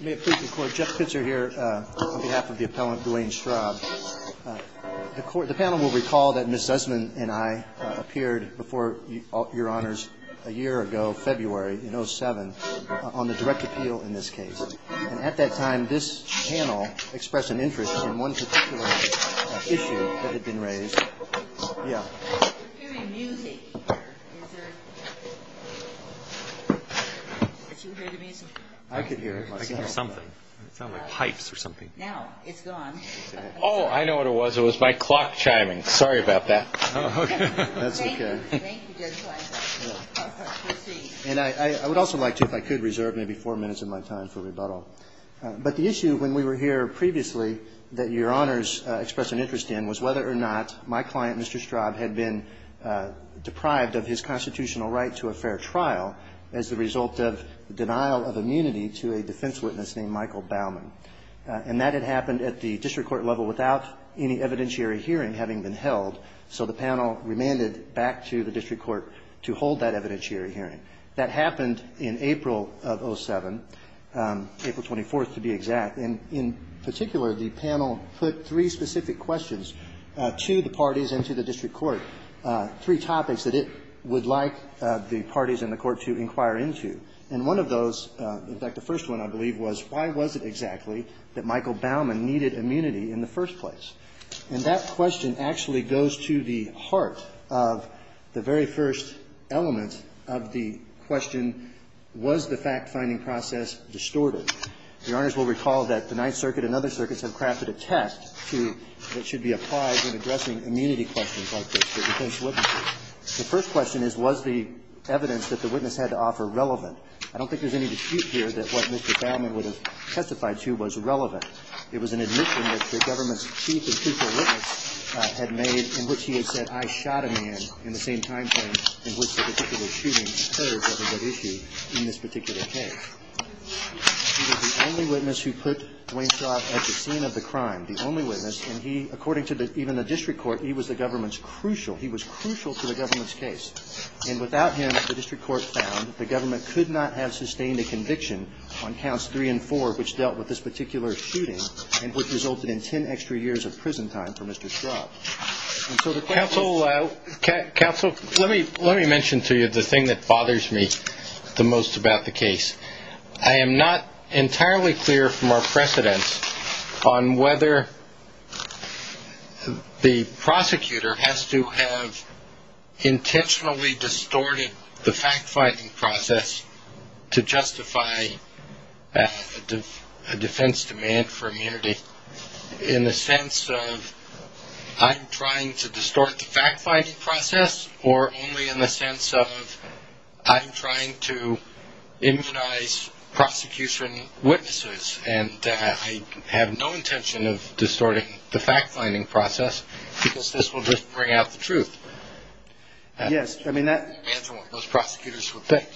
May it please the court, Jeff Pitzer here on behalf of the appellant Duane Straub. The panel will recall that Ms. Zussman and I appeared before your honors a year ago, February in 07, on the direct appeal in this case. And at that time this panel expressed an interest in one particular issue that had been raised. We're hearing music here. Did you hear the music? I could hear it. I could hear something. It sounded like pipes or something. No, it's gone. Oh, I know what it was. It was my clock chiming. Sorry about that. Oh, okay. That's okay. And I would also like to, if I could, reserve maybe four minutes of my time for rebuttal. But the issue when we were here previously that your honors expressed an interest in was whether or not my client, Mr. Straub, had been deprived of his constitutional right to a fair trial as the result of denial of immunity to a defense witness named Michael Baumann. And that had happened at the district court level without any evidentiary hearing having been held. So the panel remanded back to the district court to hold that evidentiary hearing. That happened in April of 07, April 24th to be exact. And in that hearing, the district court asked three specific questions to the parties and to the district court, three topics that it would like the parties and the court to inquire into. And one of those, in fact, the first one, I believe, was why was it exactly that Michael Baumann needed immunity in the first place? And that question actually goes to the heart of the very first element of the question, was the fact-finding process distorted? Your honors will recall that the Ninth Circuit has a number of different questions that should be applied when addressing immunity questions like this to defense witnesses. The first question is, was the evidence that the witness had to offer relevant? I don't think there's any dispute here that what Mr. Baumann would have testified to was relevant. It was an admission that the government's chief and chief of witnesses had made in which he had said, I shot a man, in the same time frame in which the particular shooting occurred that was at issue in this particular case. He was the only witness who put Dwayne Straub at the scene of the crime, the only witness, and he, according to even the district court, he was the government's crucial, he was crucial to the government's case. And without him, the district court found, the government could not have sustained a conviction on counts three and four which dealt with this particular shooting and which resulted in ten extra years of prison time for Mr. Straub. And so the question was... Counsel, let me mention to you the thing that bothers me the most about the case. I am not entirely clear from our precedence on whether the prosecutor has to have intentionally distorted the fact-finding process to justify a defense demand for immunity in the sense of I'm trying to distort the fact-finding process or only in the sense of I'm trying to immunize prosecution witnesses and I have no intention of distorting the fact-finding process because this will just bring out the truth. Answer what those prosecutors would think.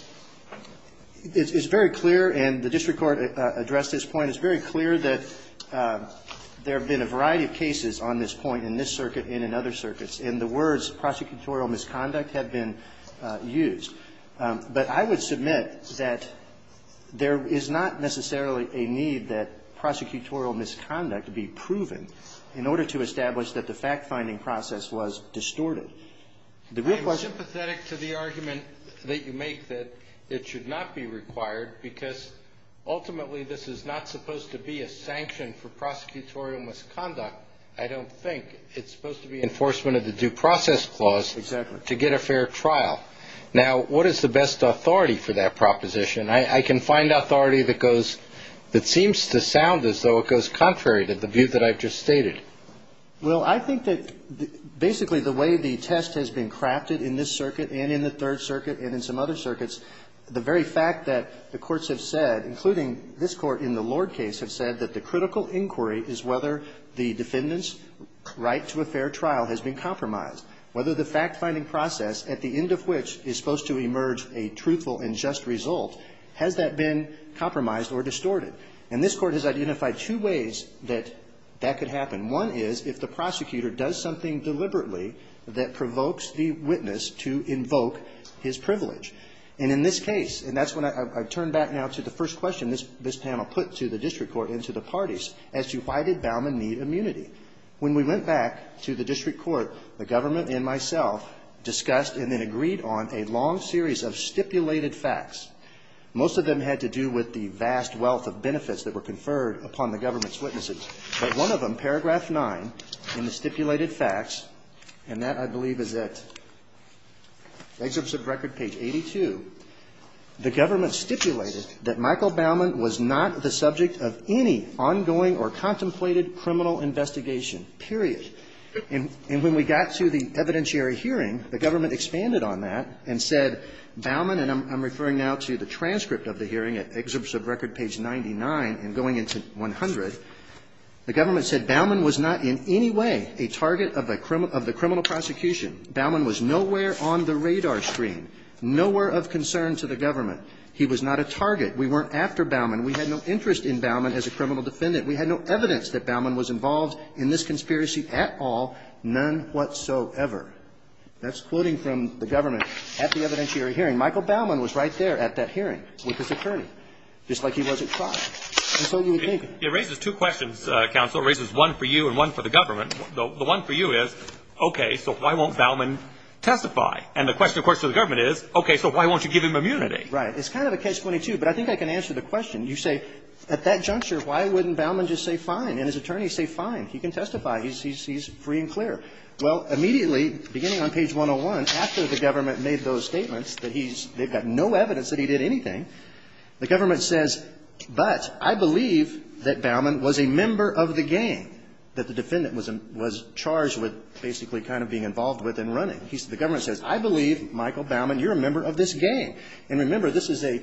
It's very clear and the district court addressed this point, it's very clear that there have been a variety of cases on this point in this circuit and in other circuits and the words prosecutorial misconduct have been used. But I would submit that there is not necessarily a need that prosecutorial misconduct be proven in order to establish that the fact-finding process was distorted. I'm sympathetic to the argument that you make that it should not be required because ultimately this is not supposed to be a sanction for prosecutorial misconduct, I don't think. It's supposed to be enforcement of the due process clause to get a fair trial. Now, what is the best authority for that proposition? I can find authority that goes, that seems to sound as though it goes contrary to the view that I've just stated. Well, I think that basically the way the test has been crafted in this circuit and in the Third Circuit and in some other circuits, the very fact that the courts have said, including this court in the Lord case, have said that the critical inquiry is whether the defendant's right to a fair trial has been compromised. Whether the trial which is supposed to emerge a truthful and just result, has that been compromised or distorted? And this Court has identified two ways that that could happen. One is if the prosecutor does something deliberately that provokes the witness to invoke his privilege. And in this case, and that's when I turn back now to the first question this panel put to the district court and to the parties, as to why did Bauman need immunity? When we went back to the district court, the government and the district court had been working on a long series of stipulated facts. Most of them had to do with the vast wealth of benefits that were conferred upon the government's witnesses. But one of them, paragraph 9, in the stipulated facts, and that, I believe, is at excerpts of record page 82, the government stipulated that Michael Bauman was not the subject of any ongoing or contemplated criminal investigation, period. And when we got to the evidentiary hearing, the government expanded on that. And said Bauman, and I'm referring now to the transcript of the hearing at excerpts of record page 99 and going into 100, the government said Bauman was not in any way a target of the criminal prosecution. Bauman was nowhere on the radar screen, nowhere of concern to the government. He was not a target. We weren't after Bauman. We had no interest in Bauman as a criminal defendant. We had no evidence that Bauman was involved in this conspiracy at all, none whatsoever. That's quoting from the government. At the evidentiary hearing, Michael Bauman was right there at that hearing with his attorney, just like he was at trial. And so you would think. It raises two questions, counsel. It raises one for you and one for the government. The one for you is, okay, so why won't Bauman testify? And the question, of course, to the government is, okay, so why won't you give him immunity? Right. It's kind of a case 22, but I think I can answer the question. You say, at that juncture, why wouldn't Bauman just say fine and his attorney say fine? He can testify. He's free and clear. Well, immediately, beginning on page 101, after the government made those statements that he's they've got no evidence that he did anything, the government says, but I believe that Bauman was a member of the gang that the defendant was charged with basically kind of being involved with and running. The government says, I believe, Michael Bauman, you're a member of this gang. And remember, this is a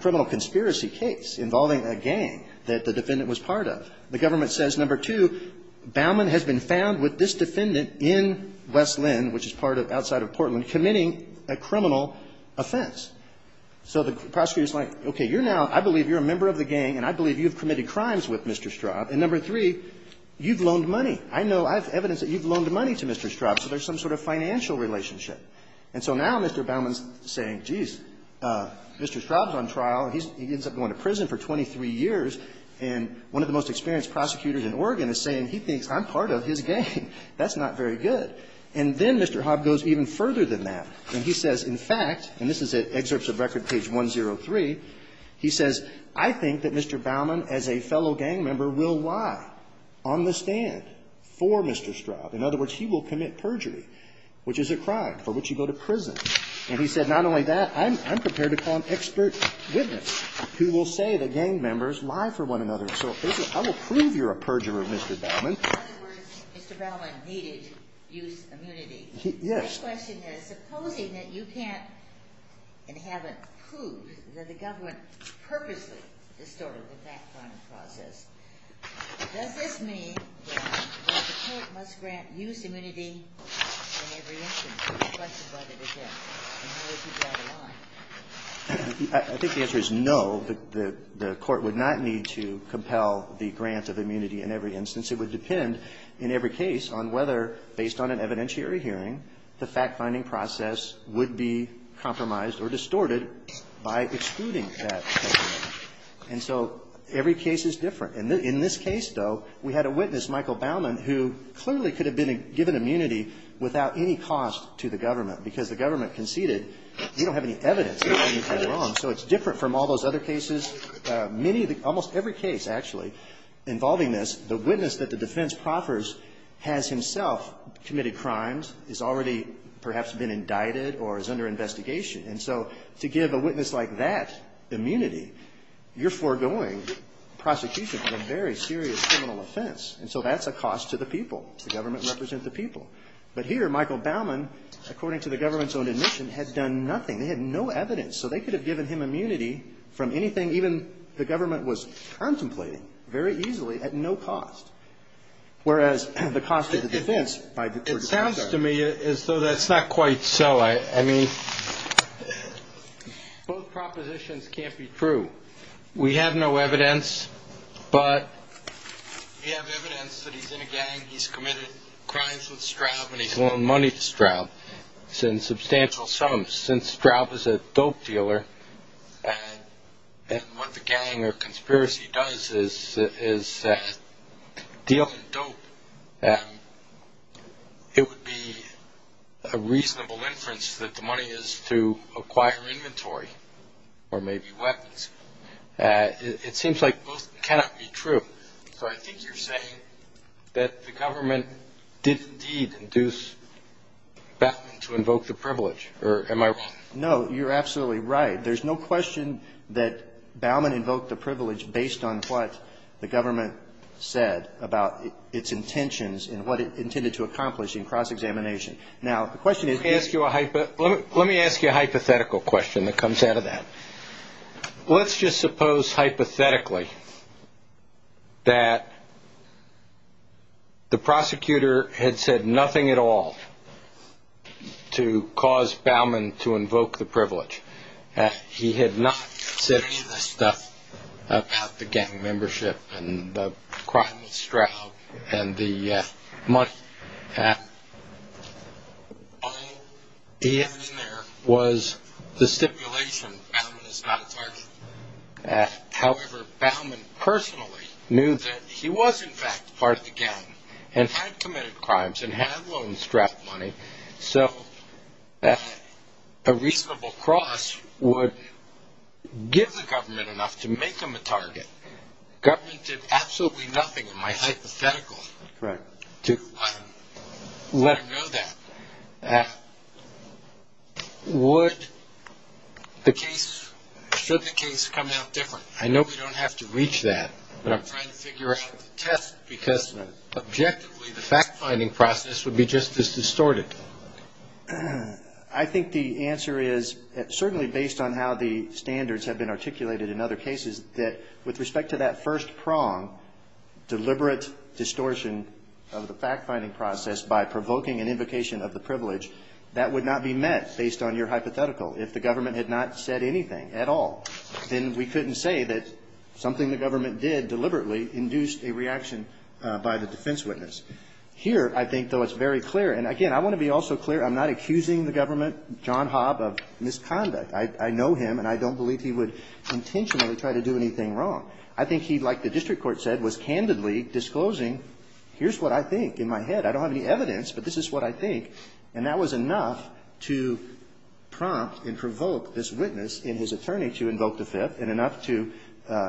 criminal conspiracy case involving a gang that the defendant was part of. The government says, number two, Bauman has been found with this defendant in West Linn, which is part of outside of Portland, committing a criminal offense. So the prosecutor is like, okay, you're now – I believe you're a member of the gang and I believe you've committed crimes with Mr. Straub. And number three, you've loaned money. I know I have evidence that you've loaned money to Mr. Straub, so there's some sort of financial relationship. And so now Mr. Bauman's saying, geez, Mr. Straub's on trial and he ends up going to prison for 23 years, and one of the most experienced prosecutors in Oregon is saying he thinks I'm part of his gang. That's not very good. And then Mr. Hobb goes even further than that, and he says, in fact, and this is at Excerpts of Record page 103, he says, I think that Mr. Bauman, as a fellow gang member, will lie on the stand for Mr. Straub. In other words, he will commit perjury, which is a crime for which you go to prison. And he said, not only that, I'm prepared to call an expert witness who will say the gang members lie for one another. So I will prove you're a perjurer, Mr. Bauman. In other words, Mr. Bauman needed use immunity. Yes. My question is, supposing that you can't and haven't proved that the government purposely distorted the background process, does this mean that the court must grant use immunity in every instance? I think the answer is no. The court would not need to compel the grant of immunity in every instance. It would depend in every case on whether, based on an evidentiary hearing, the fact-finding process would be compromised or distorted by excluding that testimony. And so every case is different. In this case, though, we had a witness, Michael Bauman, who clearly could have been given immunity without any cost to the government, because the government conceded you don't have any evidence that anything is wrong. So it's different from all those other cases. Many of the almost every case, actually, involving this, the witness that the defense proffers has himself committed crimes, has already perhaps been indicted or is under investigation. And so to give a witness like that immunity, you're foregoing prosecution for a very serious criminal offense. And so that's a cost to the people. The government represent the people. But here, Michael Bauman, according to the government's own admission, had done nothing. They had no evidence. So they could have given him immunity from anything even the government was contemplating, very easily, at no cost, whereas the cost of the defense by the court of appeals. It seems to me as though that's not quite so. I mean, both propositions can't be true. We have no evidence, but we have evidence that he's in a gang. He's committed crimes with Straub, and he's loaned money to Straub in substantial sums. Since Straub is a dope dealer, and what the gang or conspiracy does is deal in dope, it would be a reasonable inference that the money is to acquire inventory or maybe weapons. It seems like both cannot be true. So I think you're saying that the government did indeed induce Bauman to invoke the privilege. Or am I wrong? No, you're absolutely right. There's no question that Bauman invoked the privilege. He had nothing to do with what the government said about its intentions and what it intended to accomplish in cross-examination. Now, the question is Let me ask you a hypothetical question that comes out of that. Let's just suppose, hypothetically, that the prosecutor had said nothing at all to cause crime with Straub and the money. All he had in there was the stipulation that Bauman is not a target. However, Bauman personally knew that he was, in fact, part of the gang and had committed crimes and had loaned Straub money. So a reasonable cross would give the government enough to make him a target. If the government did absolutely nothing in my hypothetical to let him know that, would the case, should the case come out different? I know we don't have to reach that, but I'm trying to figure out the test because, objectively, the fact-finding process would be just as distorted. I think the answer is, certainly based on how the standards have been with respect to that first prong, deliberate distortion of the fact-finding process by provoking an invocation of the privilege, that would not be met based on your hypothetical. If the government had not said anything at all, then we couldn't say that something the government did deliberately induced a reaction by the defense witness. Here, I think, though, it's very clear, and again, I want to be also clear, I'm not accusing the government, John Hobb, of misconduct. I know him, and I don't believe he would intentionally try to do anything wrong. I think he, like the district court said, was candidly disclosing, here's what I think in my head. I don't have any evidence, but this is what I think. And that was enough to prompt and provoke this witness in his attorney to invoke the Fifth, and enough to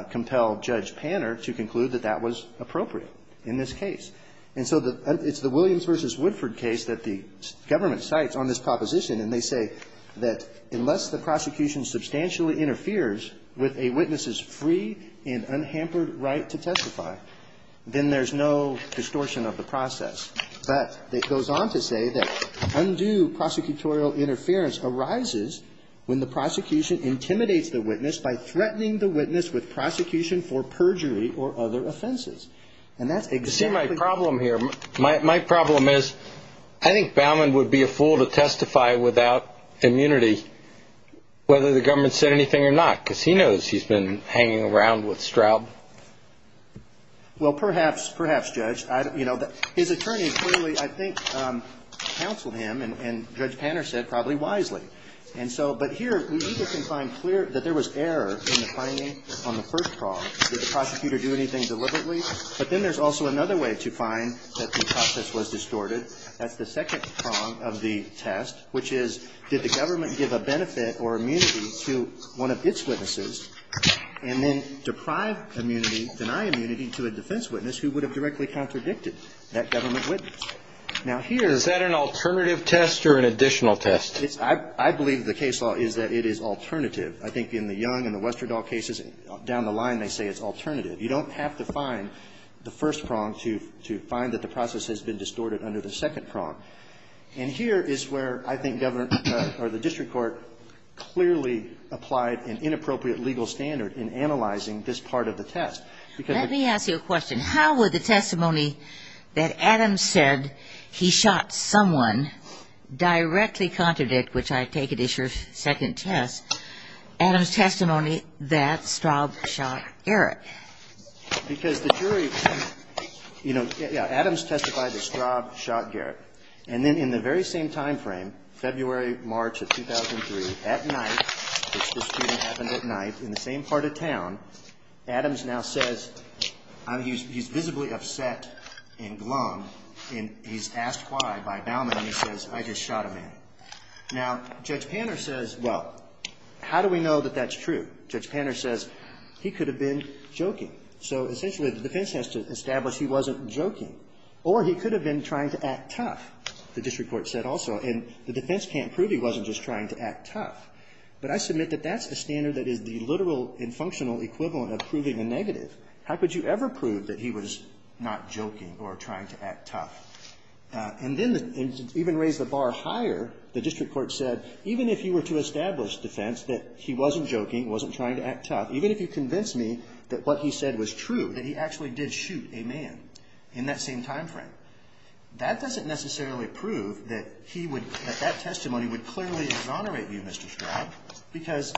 compel Judge Panner to conclude that that was appropriate in this case. And so the – it's the Williams v. Woodford case that the government cites on this proposition, and they say that unless the prosecution substantially interferes with a witness's free and unhampered right to testify, then there's no distortion of the process. But it goes on to say that undue prosecutorial interference arises when the prosecution intimidates the witness by threatening the witness with prosecution for perjury or other offenses. And that's exactly – immunity, whether the government said anything or not, because he knows he's been hanging around with Straub. Well, perhaps, perhaps, Judge. You know, his attorney clearly, I think, counseled him, and Judge Panner said probably wisely. And so – but here, we either can find clear that there was error in the finding on the first prong, did the prosecutor do anything deliberately? But then there's also another way to find that the process was distorted. That's the second prong of the test, which is, did the government give a benefit or immunity to one of its witnesses, and then deprive immunity, deny immunity to a defense witness who would have directly contradicted that government witness? Now, here's – Is that an alternative test or an additional test? I believe the case law is that it is alternative. I think in the Young and the Westerdahl cases, down the line, they say it's alternative. You don't have to find the first prong to find that the process has been distorted under the second prong. And here is where I think government or the district court clearly applied an inappropriate legal standard in analyzing this part of the test. Let me ask you a question. How would the testimony that Adams said he shot someone directly contradict, which I take it is your second test, Adams' testimony that Straub shot Eric? Because the jury, you know, yeah, Adams testified that Straub shot Garrett. And then in the very same timeframe, February, March of 2003, at night, which the shooting happened at night in the same part of town, Adams now says, he's visibly upset and glum, and he's asked why by Baumann, and he says, I just shot a man. Now, Judge Panner says, well, how do we know that that's true? Judge Panner says, he could have been joking. So essentially, the defense has to establish he wasn't joking. Or he could have been trying to act tough, the district court said also. And the defense can't prove he wasn't just trying to act tough. But I submit that that's a standard that is the literal and functional equivalent of proving a negative. How could you ever prove that he was not joking or trying to act tough? And then even raise the bar higher, the district court said, even if you were to establish defense that he wasn't joking, wasn't trying to act tough, even if you convince me that what he said was true, that he actually did shoot a man in that same timeframe, that doesn't necessarily prove that he would – that that testimony would clearly exonerate you, Mr. Straub, because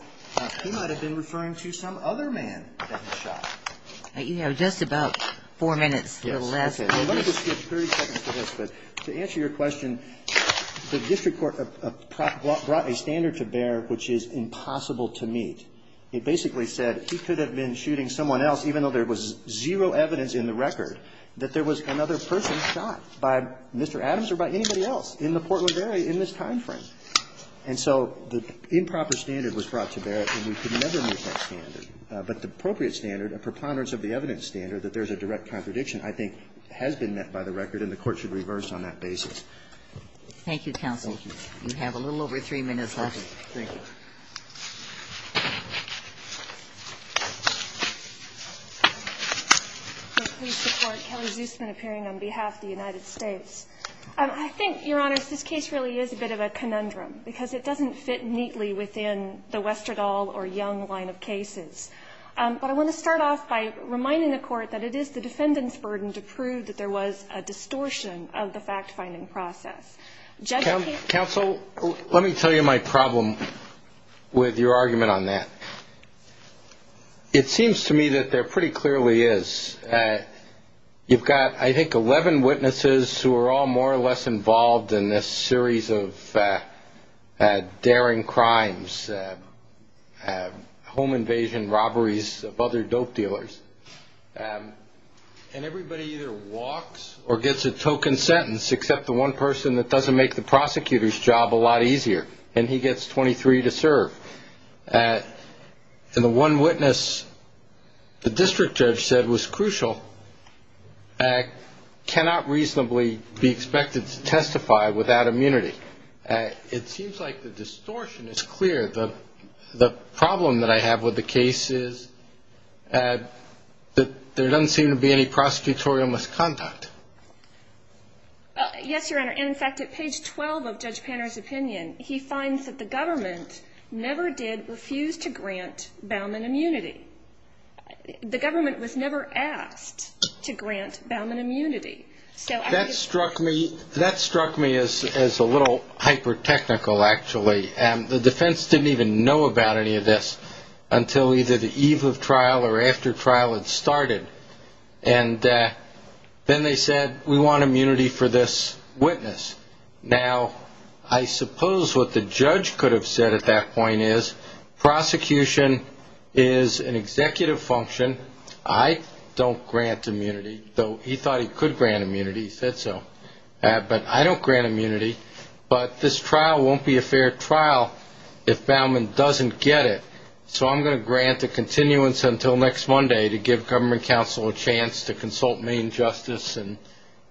he might have been referring to some other man that he shot. You know, just about four minutes. Yes, okay. Well, let me just skip 30 seconds to this, because to answer your question, the district court brought a standard to bear which is impossible to meet. It basically said he could have been shooting someone else, even though there was zero evidence in the record, that there was another person shot by Mr. Adams or by anybody else in the Portland area in this timeframe. And so the improper standard was brought to bear, and we could never meet that standard. But the appropriate standard, a preponderance of the evidence standard, that there's a direct contradiction, I think, has been met by the record, and the Court should reverse on that basis. Thank you, counsel. Thank you. We have a little over three minutes left. Okay. Thank you. Please support Kelly Zusman appearing on behalf of the United States. I think, Your Honors, this case really is a bit of a conundrum, because it doesn't fit neatly within the Westerdahl or Young line of cases. But I want to start off by reminding the Court that it is the defendant's burden to prove that there was a distortion of the fact-finding process. Judging... Counsel, let me tell you my problem with your argument on that. It seems to me that there pretty clearly is. You've got, I think, 11 witnesses who are all more or less involved in this series of daring crimes, home invasion, robberies of other dope dealers, and everybody either walks or gets a token sentence, except the one person that doesn't make the prosecutor's job a lot easier, and he gets 23 to serve. And the one witness the district judge said was crucial cannot reasonably be expected to testify without immunity. It seems like the distortion is clear. The problem that I have with the case is that there doesn't seem to be any prosecutorial misconduct. Yes, Your Honor. And, in fact, at page 12 of Judge Panner's opinion, he finds that the government never did refuse to grant Bauman immunity. The government was never asked to grant Bauman immunity. That struck me as a little hyper-technical, actually. The defense didn't even know about any of this until either the eve of trial or after trial had started. And then they said, we want immunity for this witness. Now, I suppose what the judge could have said at that point is, prosecution is an executive function. I don't grant immunity, though he thought he could grant immunity. He said so. But I don't grant immunity. But this trial won't be a fair trial if Bauman doesn't get it. So I'm going to grant a continuance until next Monday to give government counsel a chance to consult main justice and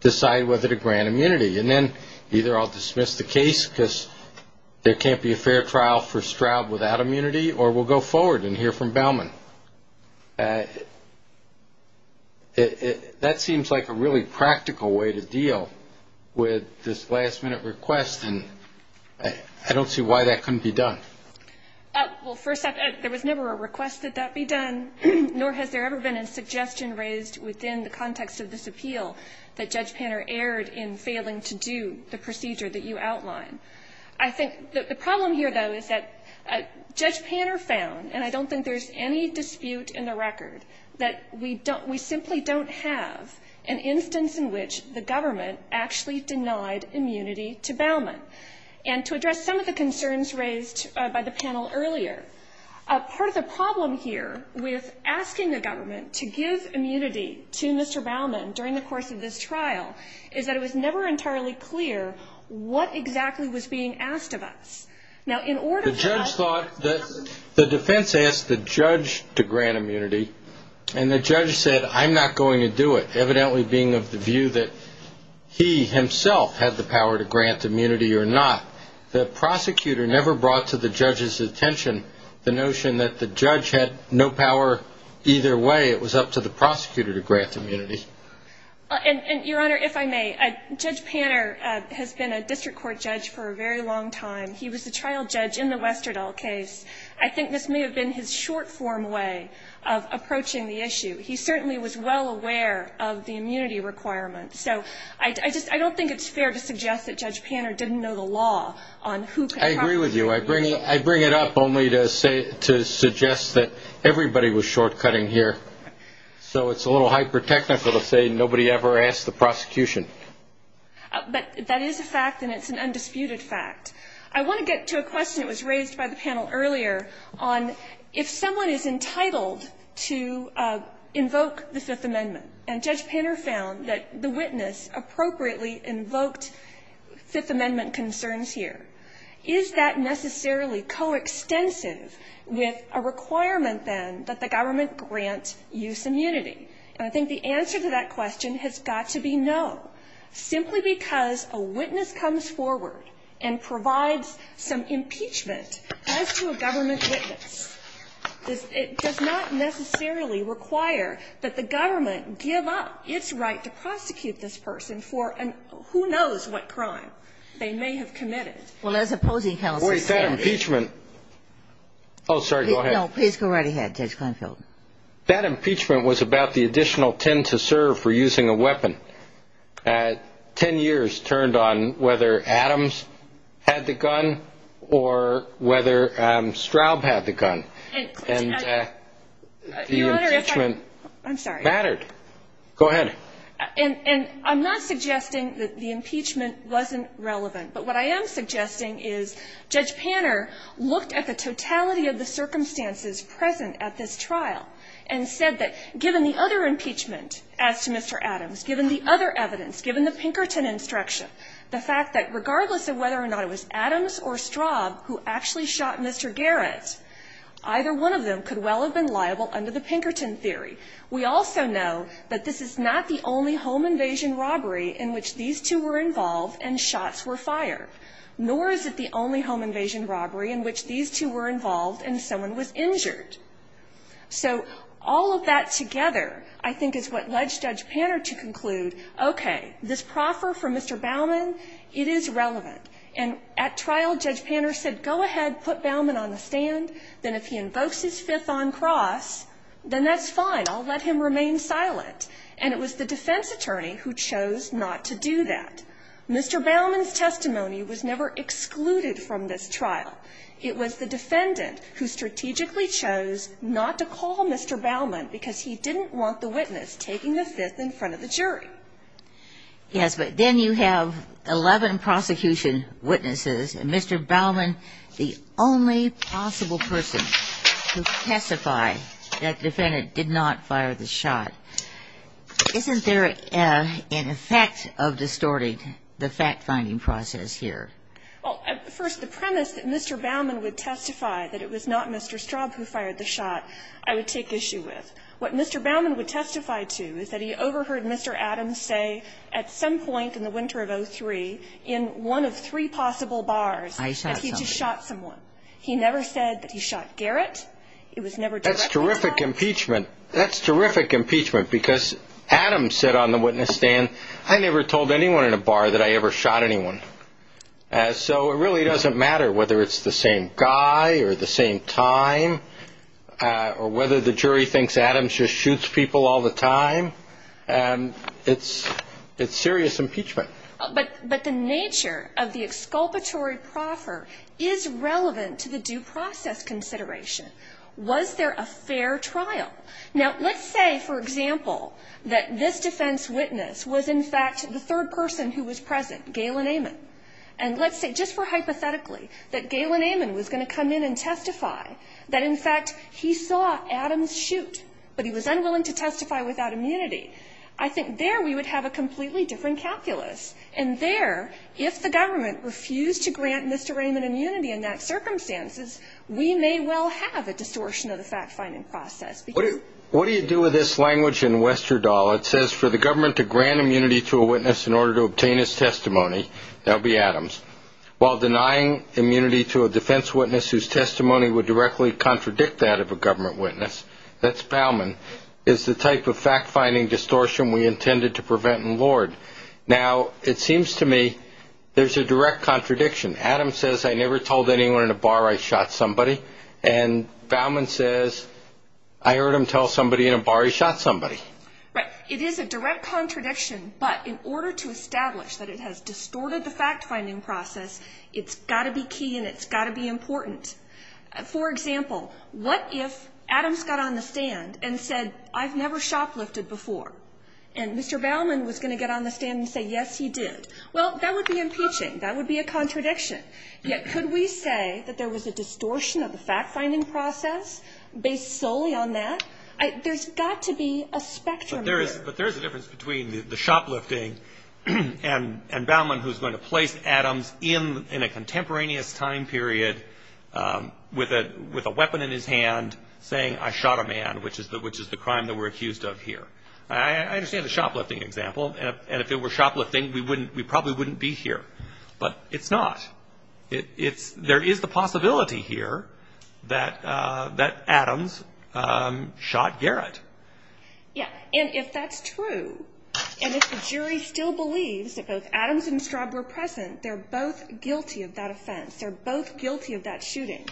decide whether to grant immunity. And then either I'll dismiss the case because there can't be a fair trial for Stroud without immunity, or we'll go forward and hear from Bauman. That seems like a really practical way to deal with this last-minute request, and I don't see why that couldn't be done. Well, first off, there was never a request that that be done, nor has there ever been a suggestion raised within the context of this appeal that Judge Panner erred in failing to do the procedure that you outline. I think the problem here, though, is that Judge Panner found, and I don't think there's any dispute in the record, that we simply don't have an instance in which the government actually denied immunity to Bauman. And to address some of the concerns raised by the panel earlier, part of the problem here with asking the government to give immunity to Mr. What exactly was being asked of us? The defense asked the judge to grant immunity, and the judge said, I'm not going to do it, evidently being of the view that he himself had the power to grant immunity or not. The prosecutor never brought to the judge's attention the notion that the judge had no power either way. It was up to the prosecutor to grant immunity. And, Your Honor, if I may, Judge Panner has been a district court judge for a very long time. He was a trial judge in the Westerdahl case. I think this may have been his short-form way of approaching the issue. He certainly was well aware of the immunity requirements. So I just don't think it's fair to suggest that Judge Panner didn't know the law on who could have immunity. I agree with you. I bring it up only to suggest that everybody was short-cutting here. So it's a little hyper-technical to say nobody ever asked the prosecution. But that is a fact, and it's an undisputed fact. I want to get to a question that was raised by the panel earlier on if someone is entitled to invoke the Fifth Amendment, and Judge Panner found that the witness appropriately invoked Fifth Amendment concerns here, is that necessarily coextensive with a requirement, then, that the government grant use immunity? And I think the answer to that question has got to be no, simply because a witness comes forward and provides some impeachment as to a government witness. It does not necessarily require that the government give up its right to prosecute this person for who knows what crime they may have committed. Well, as opposing counsel says. Wait, that impeachment. Oh, sorry, go ahead. No, please go right ahead, Judge Kleinfeld. That impeachment was about the additional 10 to serve for using a weapon. Ten years turned on whether Adams had the gun or whether Straub had the gun. And the impeachment mattered. Go ahead. And I'm not suggesting that the impeachment wasn't relevant, but what I am suggesting is Judge Panner looked at the totality of the circumstances present at this trial and said that given the other impeachment as to Mr. Adams, given the other evidence, given the Pinkerton instruction, the fact that regardless of whether or not it was Adams or Straub who actually shot Mr. Garrett, either one of them could well have been liable under the Pinkerton theory. We also know that this is not the only home invasion robbery in which these two were involved and shots were fired, nor is it the only home invasion robbery in which these two were involved and someone was injured. So all of that together, I think, is what led Judge Panner to conclude, okay, this proffer for Mr. Bauman, it is relevant. And at trial, Judge Panner said, go ahead, put Bauman on the stand. Then if he invokes his fifth on cross, then that's fine. I'll let him remain silent. And it was the defense attorney who chose not to do that. Mr. Bauman's testimony was never excluded from this trial. It was the defendant who strategically chose not to call Mr. Bauman because he didn't want the witness taking the fifth in front of the jury. Yes, but then you have 11 prosecution witnesses, and Mr. Bauman is the only possible person to testify that the defendant did not fire the shot. Isn't there an effect of distorting the fact-finding process here? Well, first, the premise that Mr. Bauman would testify that it was not Mr. Straub who fired the shot, I would take issue with. What Mr. Bauman would testify to is that he overheard Mr. Adams say at some point in the winter of 03 in one of three possible bars that he just shot someone. He never said that he shot Garrett. That's terrific impeachment. That's terrific impeachment because Adams said on the witness stand, I never told anyone in a bar that I ever shot anyone. So it really doesn't matter whether it's the same guy or the same time or whether the jury thinks Adams just shoots people all the time. It's serious impeachment. But the nature of the exculpatory proffer is relevant to the due process consideration. Was there a fair trial? Now, let's say, for example, that this defense witness was, in fact, the third person who was present, Galen Amon. And let's say just for hypothetically that Galen Amon was going to come in and testify that, in fact, he saw Adams shoot, but he was unwilling to testify without immunity. I think there we would have a completely different calculus. And there, if the government refused to grant Mr. Raymond immunity in that circumstances, we may well have a distortion of the fact-finding process. What do you do with this language in Westerdahl? It says, for the government to grant immunity to a witness in order to obtain his testimony, that would be Adams, while denying immunity to a defense witness whose testimony would directly contradict that of a government witness, that's a fact-finding distortion we intended to prevent and lord. Now, it seems to me there's a direct contradiction. Adams says, I never told anyone in a bar I shot somebody. And Bowman says, I heard him tell somebody in a bar he shot somebody. Right. It is a direct contradiction, but in order to establish that it has distorted the fact-finding process, it's got to be key and it's got to be important. For example, what if Adams got on the stand and said, I've never shoplifted before, and Mr. Bowman was going to get on the stand and say, yes, he did. Well, that would be impeaching. That would be a contradiction. Yet, could we say that there was a distortion of the fact-finding process based solely on that? There's got to be a spectrum here. But there is a difference between the shoplifting and Bowman, who's going to place Adams in a contemporaneous time period with a weapon in his hand saying, I shot a man, which is the crime that we're accused of here. I understand the shoplifting example. And if it were shoplifting, we probably wouldn't be here. But it's not. There is the possibility here that Adams shot Garrett. Yeah. And if that's true, and if the jury still believes that both Adams and Straub were present, they're both guilty of that offense. They're both guilty of that shooting.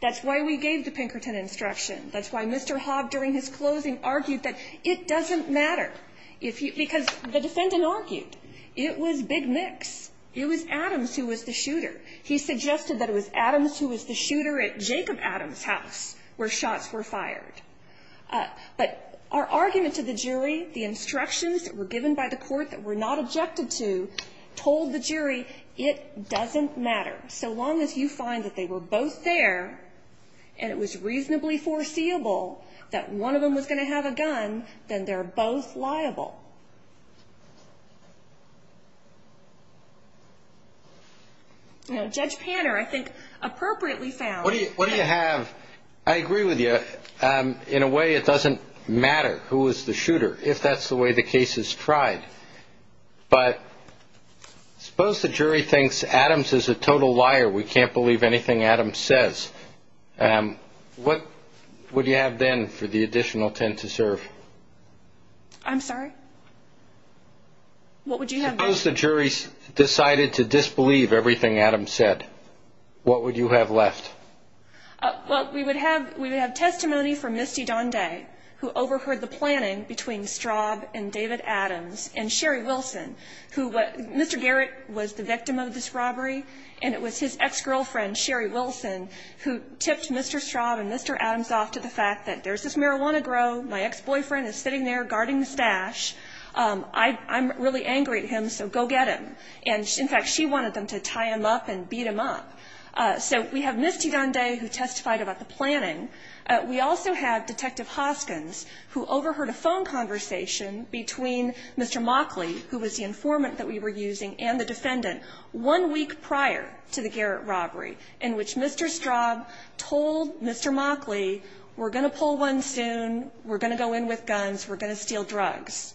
That's why we gave the Pinkerton instruction. That's why Mr. Hobb, during his closing, argued that it doesn't matter. Because the defendant argued it was big mix. It was Adams who was the shooter. He suggested that it was Adams who was the shooter at Jacob Adams' house where shots were fired. But our argument to the jury, the instructions that were given by the court that were not objected to, told the jury, it doesn't matter. So long as you find that they were both there, and it was reasonably foreseeable that one of them was going to have a gun, then they're both liable. Now, Judge Panner, I think, appropriately found. What do you have? I agree with you. In a way, it doesn't matter who was the shooter, if that's the way the case is tried. But suppose the jury thinks Adams is a total liar. We can't believe anything Adams says. What would you have then for the additional 10 to serve? I'm sorry? What would you have left? Suppose the jury decided to disbelieve everything Adams said. What would you have left? Well, we would have testimony from Misty Donde, who overheard the planning between Straub and David Adams, and Sherry Wilson, who Mr. Garrett was the victim of this robbery, and it was his ex-girlfriend, Sherry Wilson, who tipped Mr. Straub and Mr. Adams off to the fact that there's this marijuana grow, my ex-boyfriend is sitting there guarding the stash, I'm really angry at him, so go get him. And, in fact, she wanted them to tie him up and beat him up. So we have Misty Donde, who testified about the planning. We also have Detective Hoskins, who overheard a phone conversation between Mr. Mockley, who was the informant that we were using, and the defendant one week prior to the Garrett robbery, in which Mr. Straub told Mr. Mockley, we're going to pull one soon, we're going to go in with guns, we're going to steal drugs.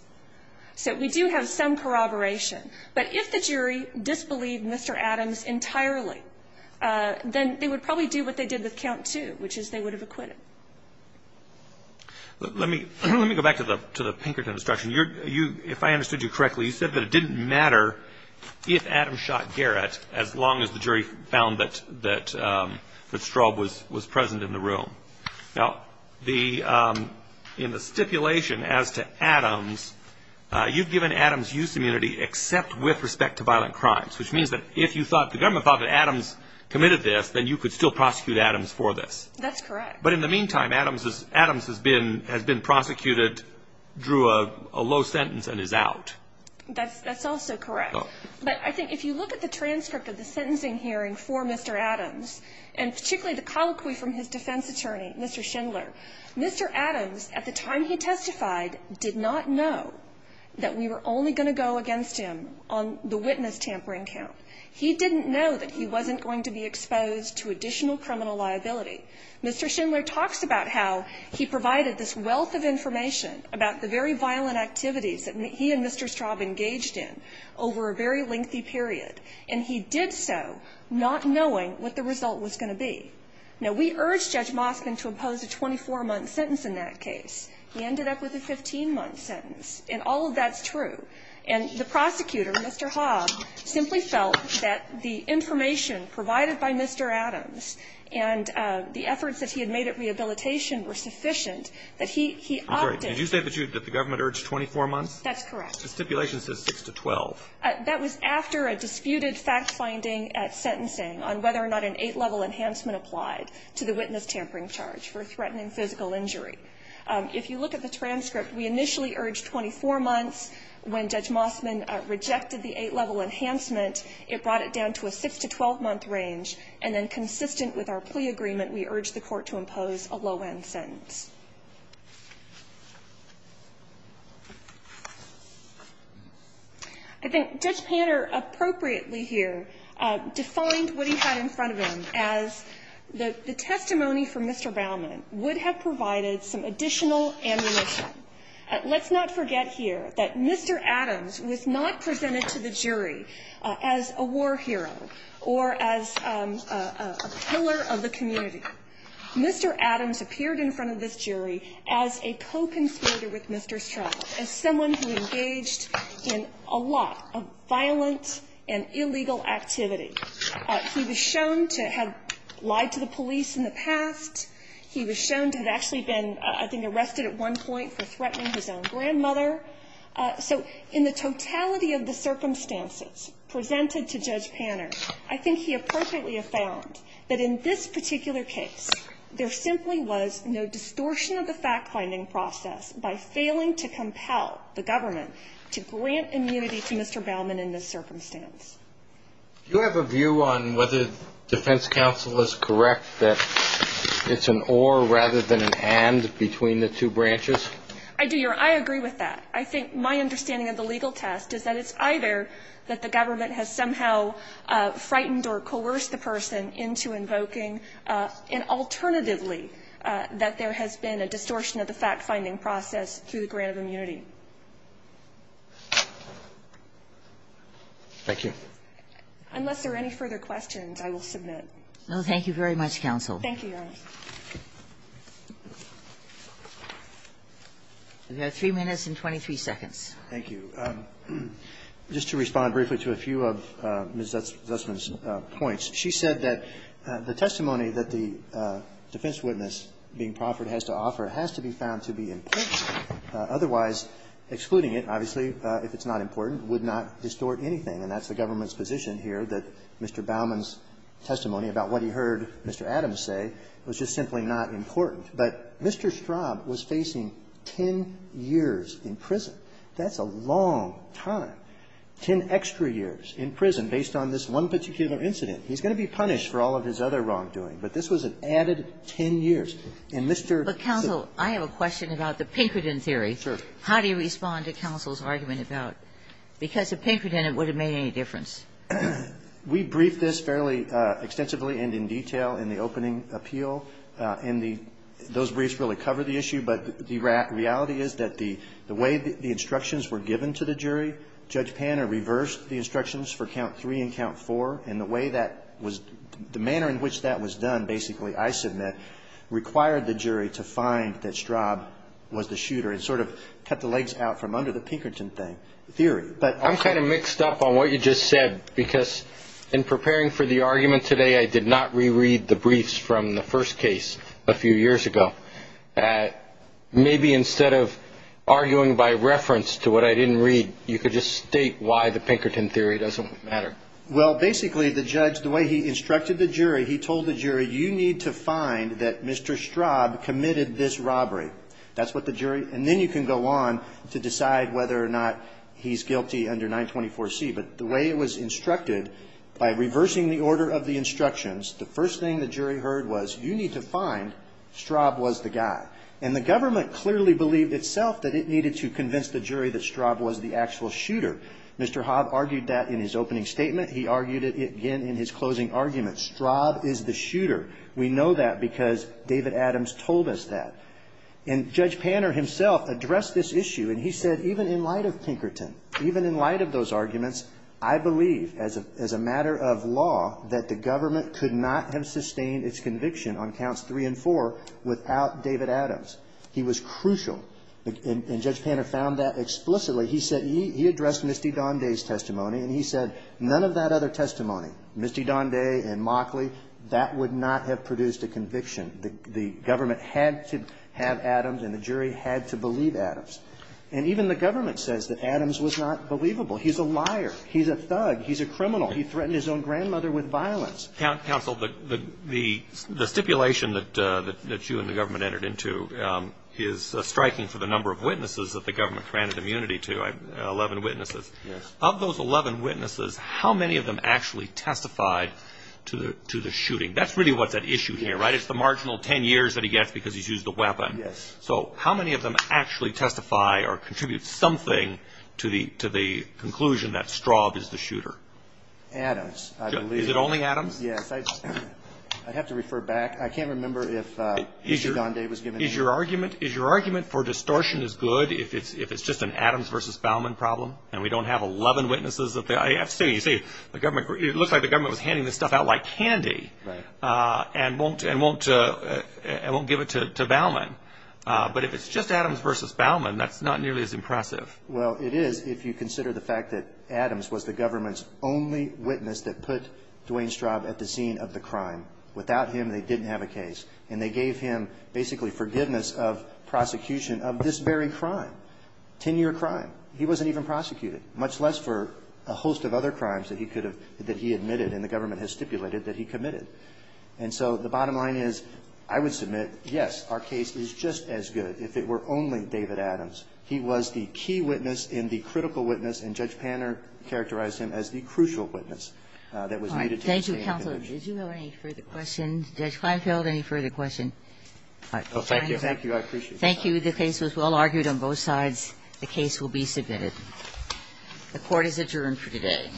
So we do have some corroboration. But if the jury disbelieved Mr. Adams entirely, then they would probably do what they did with count two, which is they would have acquitted. Let me go back to the Pinkerton obstruction. If I understood you correctly, you said that it didn't matter if Adams shot Garrett as long as the jury found that Straub was present in the room. Now, in the stipulation as to Adams, you've given Adams use immunity except with respect to violent crimes, which means that if the government thought that Adams committed this, then you could still prosecute Adams for this. That's correct. But in the meantime, Adams has been prosecuted, drew a low sentence, and is out. That's also correct. But I think if you look at the transcript of the sentencing hearing for Mr. Adams, and particularly the colloquy from his defense attorney, Mr. Schindler, Mr. Adams, at the time he testified, did not know that we were only going to go against him on the witness tampering count. He didn't know that he wasn't going to be exposed to additional criminal liability. Mr. Schindler talks about how he provided this wealth of information about the very violent activities that he and Mr. Straub engaged in over a very lengthy period, and he did so not knowing what the result was going to be. Now, we urged Judge Moskvin to impose a 24-month sentence in that case. He ended up with a 15-month sentence. And all of that's true. And the prosecutor, Mr. Hobb, simply felt that the information provided by Mr. Adams and the efforts that he had made at rehabilitation were sufficient, that he opted I'm sorry. Did you say that the government urged 24 months? That's correct. The stipulation says 6 to 12. That was after a disputed fact-finding at sentencing on whether or not an eight-level enhancement applied to the witness tampering charge for threatening physical injury. If you look at the transcript, we initially urged 24 months. When Judge Moskvin rejected the eight-level enhancement, it brought it down to a 6 to 12-month range. And then consistent with our plea agreement, we urged the Court to impose a low-end sentence. I think Judge Panter appropriately here defined what he had in front of him as the testimony from Mr. Baumann would have provided some additional ammunition. Let's not forget here that Mr. Adams was not presented to the jury as a war hero or as a pillar of the community. Mr. Adams appeared in front of this jury as a co-conspirator with Mr. Strauss, as someone who engaged in a lot of violent and illegal activity. He was shown to have lied to the police in the past. He was shown to have actually been, I think, arrested at one point for threatening his own grandmother. So in the totality of the circumstances presented to Judge Panter, I think he appropriately found that in this particular case there simply was no distortion of the fact-finding process by failing to compel the government to grant immunity to Mr. Baumann in this circumstance. Do you have a view on whether defense counsel is correct that it's an or rather than an and between the two branches? I do, Your Honor. I agree with that. I think my understanding of the legal test is that it's either that the government has somehow frightened or coerced the person into invoking, and alternatively that there has been a distortion of the fact-finding process through the grant of immunity. Unless there are any further questions, I will submit. No, thank you very much, counsel. Thank you, Your Honor. We have 3 minutes and 23 seconds. Thank you. Just to respond briefly to a few of Ms. Zussman's points, she said that the testimony that the defense witness, being proffered, has to offer has to be found to be important. Otherwise, excluding it, obviously, if it's not important, would not distort anything. And that's the government's position here, that Mr. Baumann's testimony about what he heard Mr. Adams say was just simply not important. But Mr. Straub was facing 10 years in prison. That's a long time, 10 extra years in prison, based on this one particular incident. He's going to be punished for all of his other wrongdoing, but this was an added 10 years. And Mr. Zussman ---- But, counsel, I have a question about the Pinkerton theory. Sure. How do you respond to counsel's argument about ---- because if Pinkerton had, it would have made any difference. We briefed this fairly extensively and in detail in the opening appeal. And the ---- those briefs really cover the issue. But the reality is that the way the instructions were given to the jury, Judge Panner reversed the instructions for count 3 and count 4, and the way that was ---- the manner in which that was done, basically, I submit, required the jury to find that Straub was the shooter. It sort of cut the legs out from under the Pinkerton thing, theory. But ---- I'm kind of mixed up on what you just said, because in preparing for the argument today, I did not reread the briefs from the first case a few years ago. Maybe instead of arguing by reference to what I didn't read, you could just state why the Pinkerton theory doesn't matter. Well, basically, the judge, the way he instructed the jury, he told the jury, you need to find that Mr. Straub committed this robbery. That's what the jury ---- and then you can go on to decide whether or not he's guilty under 924C. But the way it was instructed, by reversing the order of the instructions, the first thing the jury heard was, you need to find Straub was the guy. And the government clearly believed itself that it needed to convince the jury that Straub was the actual shooter. Mr. Hobb argued that in his opening statement. He argued it again in his closing argument. Straub is the shooter. We know that because David Adams told us that. And Judge Panner himself addressed this issue. And he said, even in light of Pinkerton, even in light of those arguments, I believe as a matter of law that the government could not have sustained its conviction on counts three and four without David Adams. He was crucial. And Judge Panner found that explicitly. He said he addressed Misty Donde's testimony, and he said none of that other testimony, Misty Donde and Mockley, that would not have produced a conviction. The government had to have Adams, and the jury had to believe Adams. And even the government says that Adams was not believable. He's a liar. He's a thug. He's a criminal. He threatened his own grandmother with violence. Counsel, the stipulation that you and the government entered into is striking for the number of witnesses that the government granted immunity to, 11 witnesses. Yes. Of those 11 witnesses, how many of them actually testified to the shooting? That's really what's at issue here, right? It's the marginal 10 years that he gets because he's used a weapon. Yes. So how many of them actually testify or contribute something to the conclusion that Straub is the shooter? Adams, I believe. Is it only Adams? Yes. I'd have to refer back. I can't remember if Misty Donde was given immunity. Is your argument for distortion as good if it's just an Adams versus Bauman problem and we don't have 11 witnesses? You see, it looks like the government was handing this stuff out like candy and won't give it to Bauman. But if it's just Adams versus Bauman, that's not nearly as impressive. Well, it is if you consider the fact that Adams was the government's only witness that put Duane Straub at the scene of the crime. Without him, they didn't have a case. And they gave him basically forgiveness of prosecution of this very crime, 10-year crime. He wasn't even prosecuted, much less for a host of other crimes that he could have that he admitted and the government has stipulated that he committed. And so the bottom line is, I would submit, yes, our case is just as good if it were only David Adams. He was the key witness and the critical witness, and Judge Panner characterized him as the crucial witness that was needed. All right. Thank you, counsel. Did you have any further questions? Judge Kleinfeld, any further questions? No, thank you. Thank you. I appreciate it. The case was well argued on both sides. The case will be submitted. The Court is adjourned for today.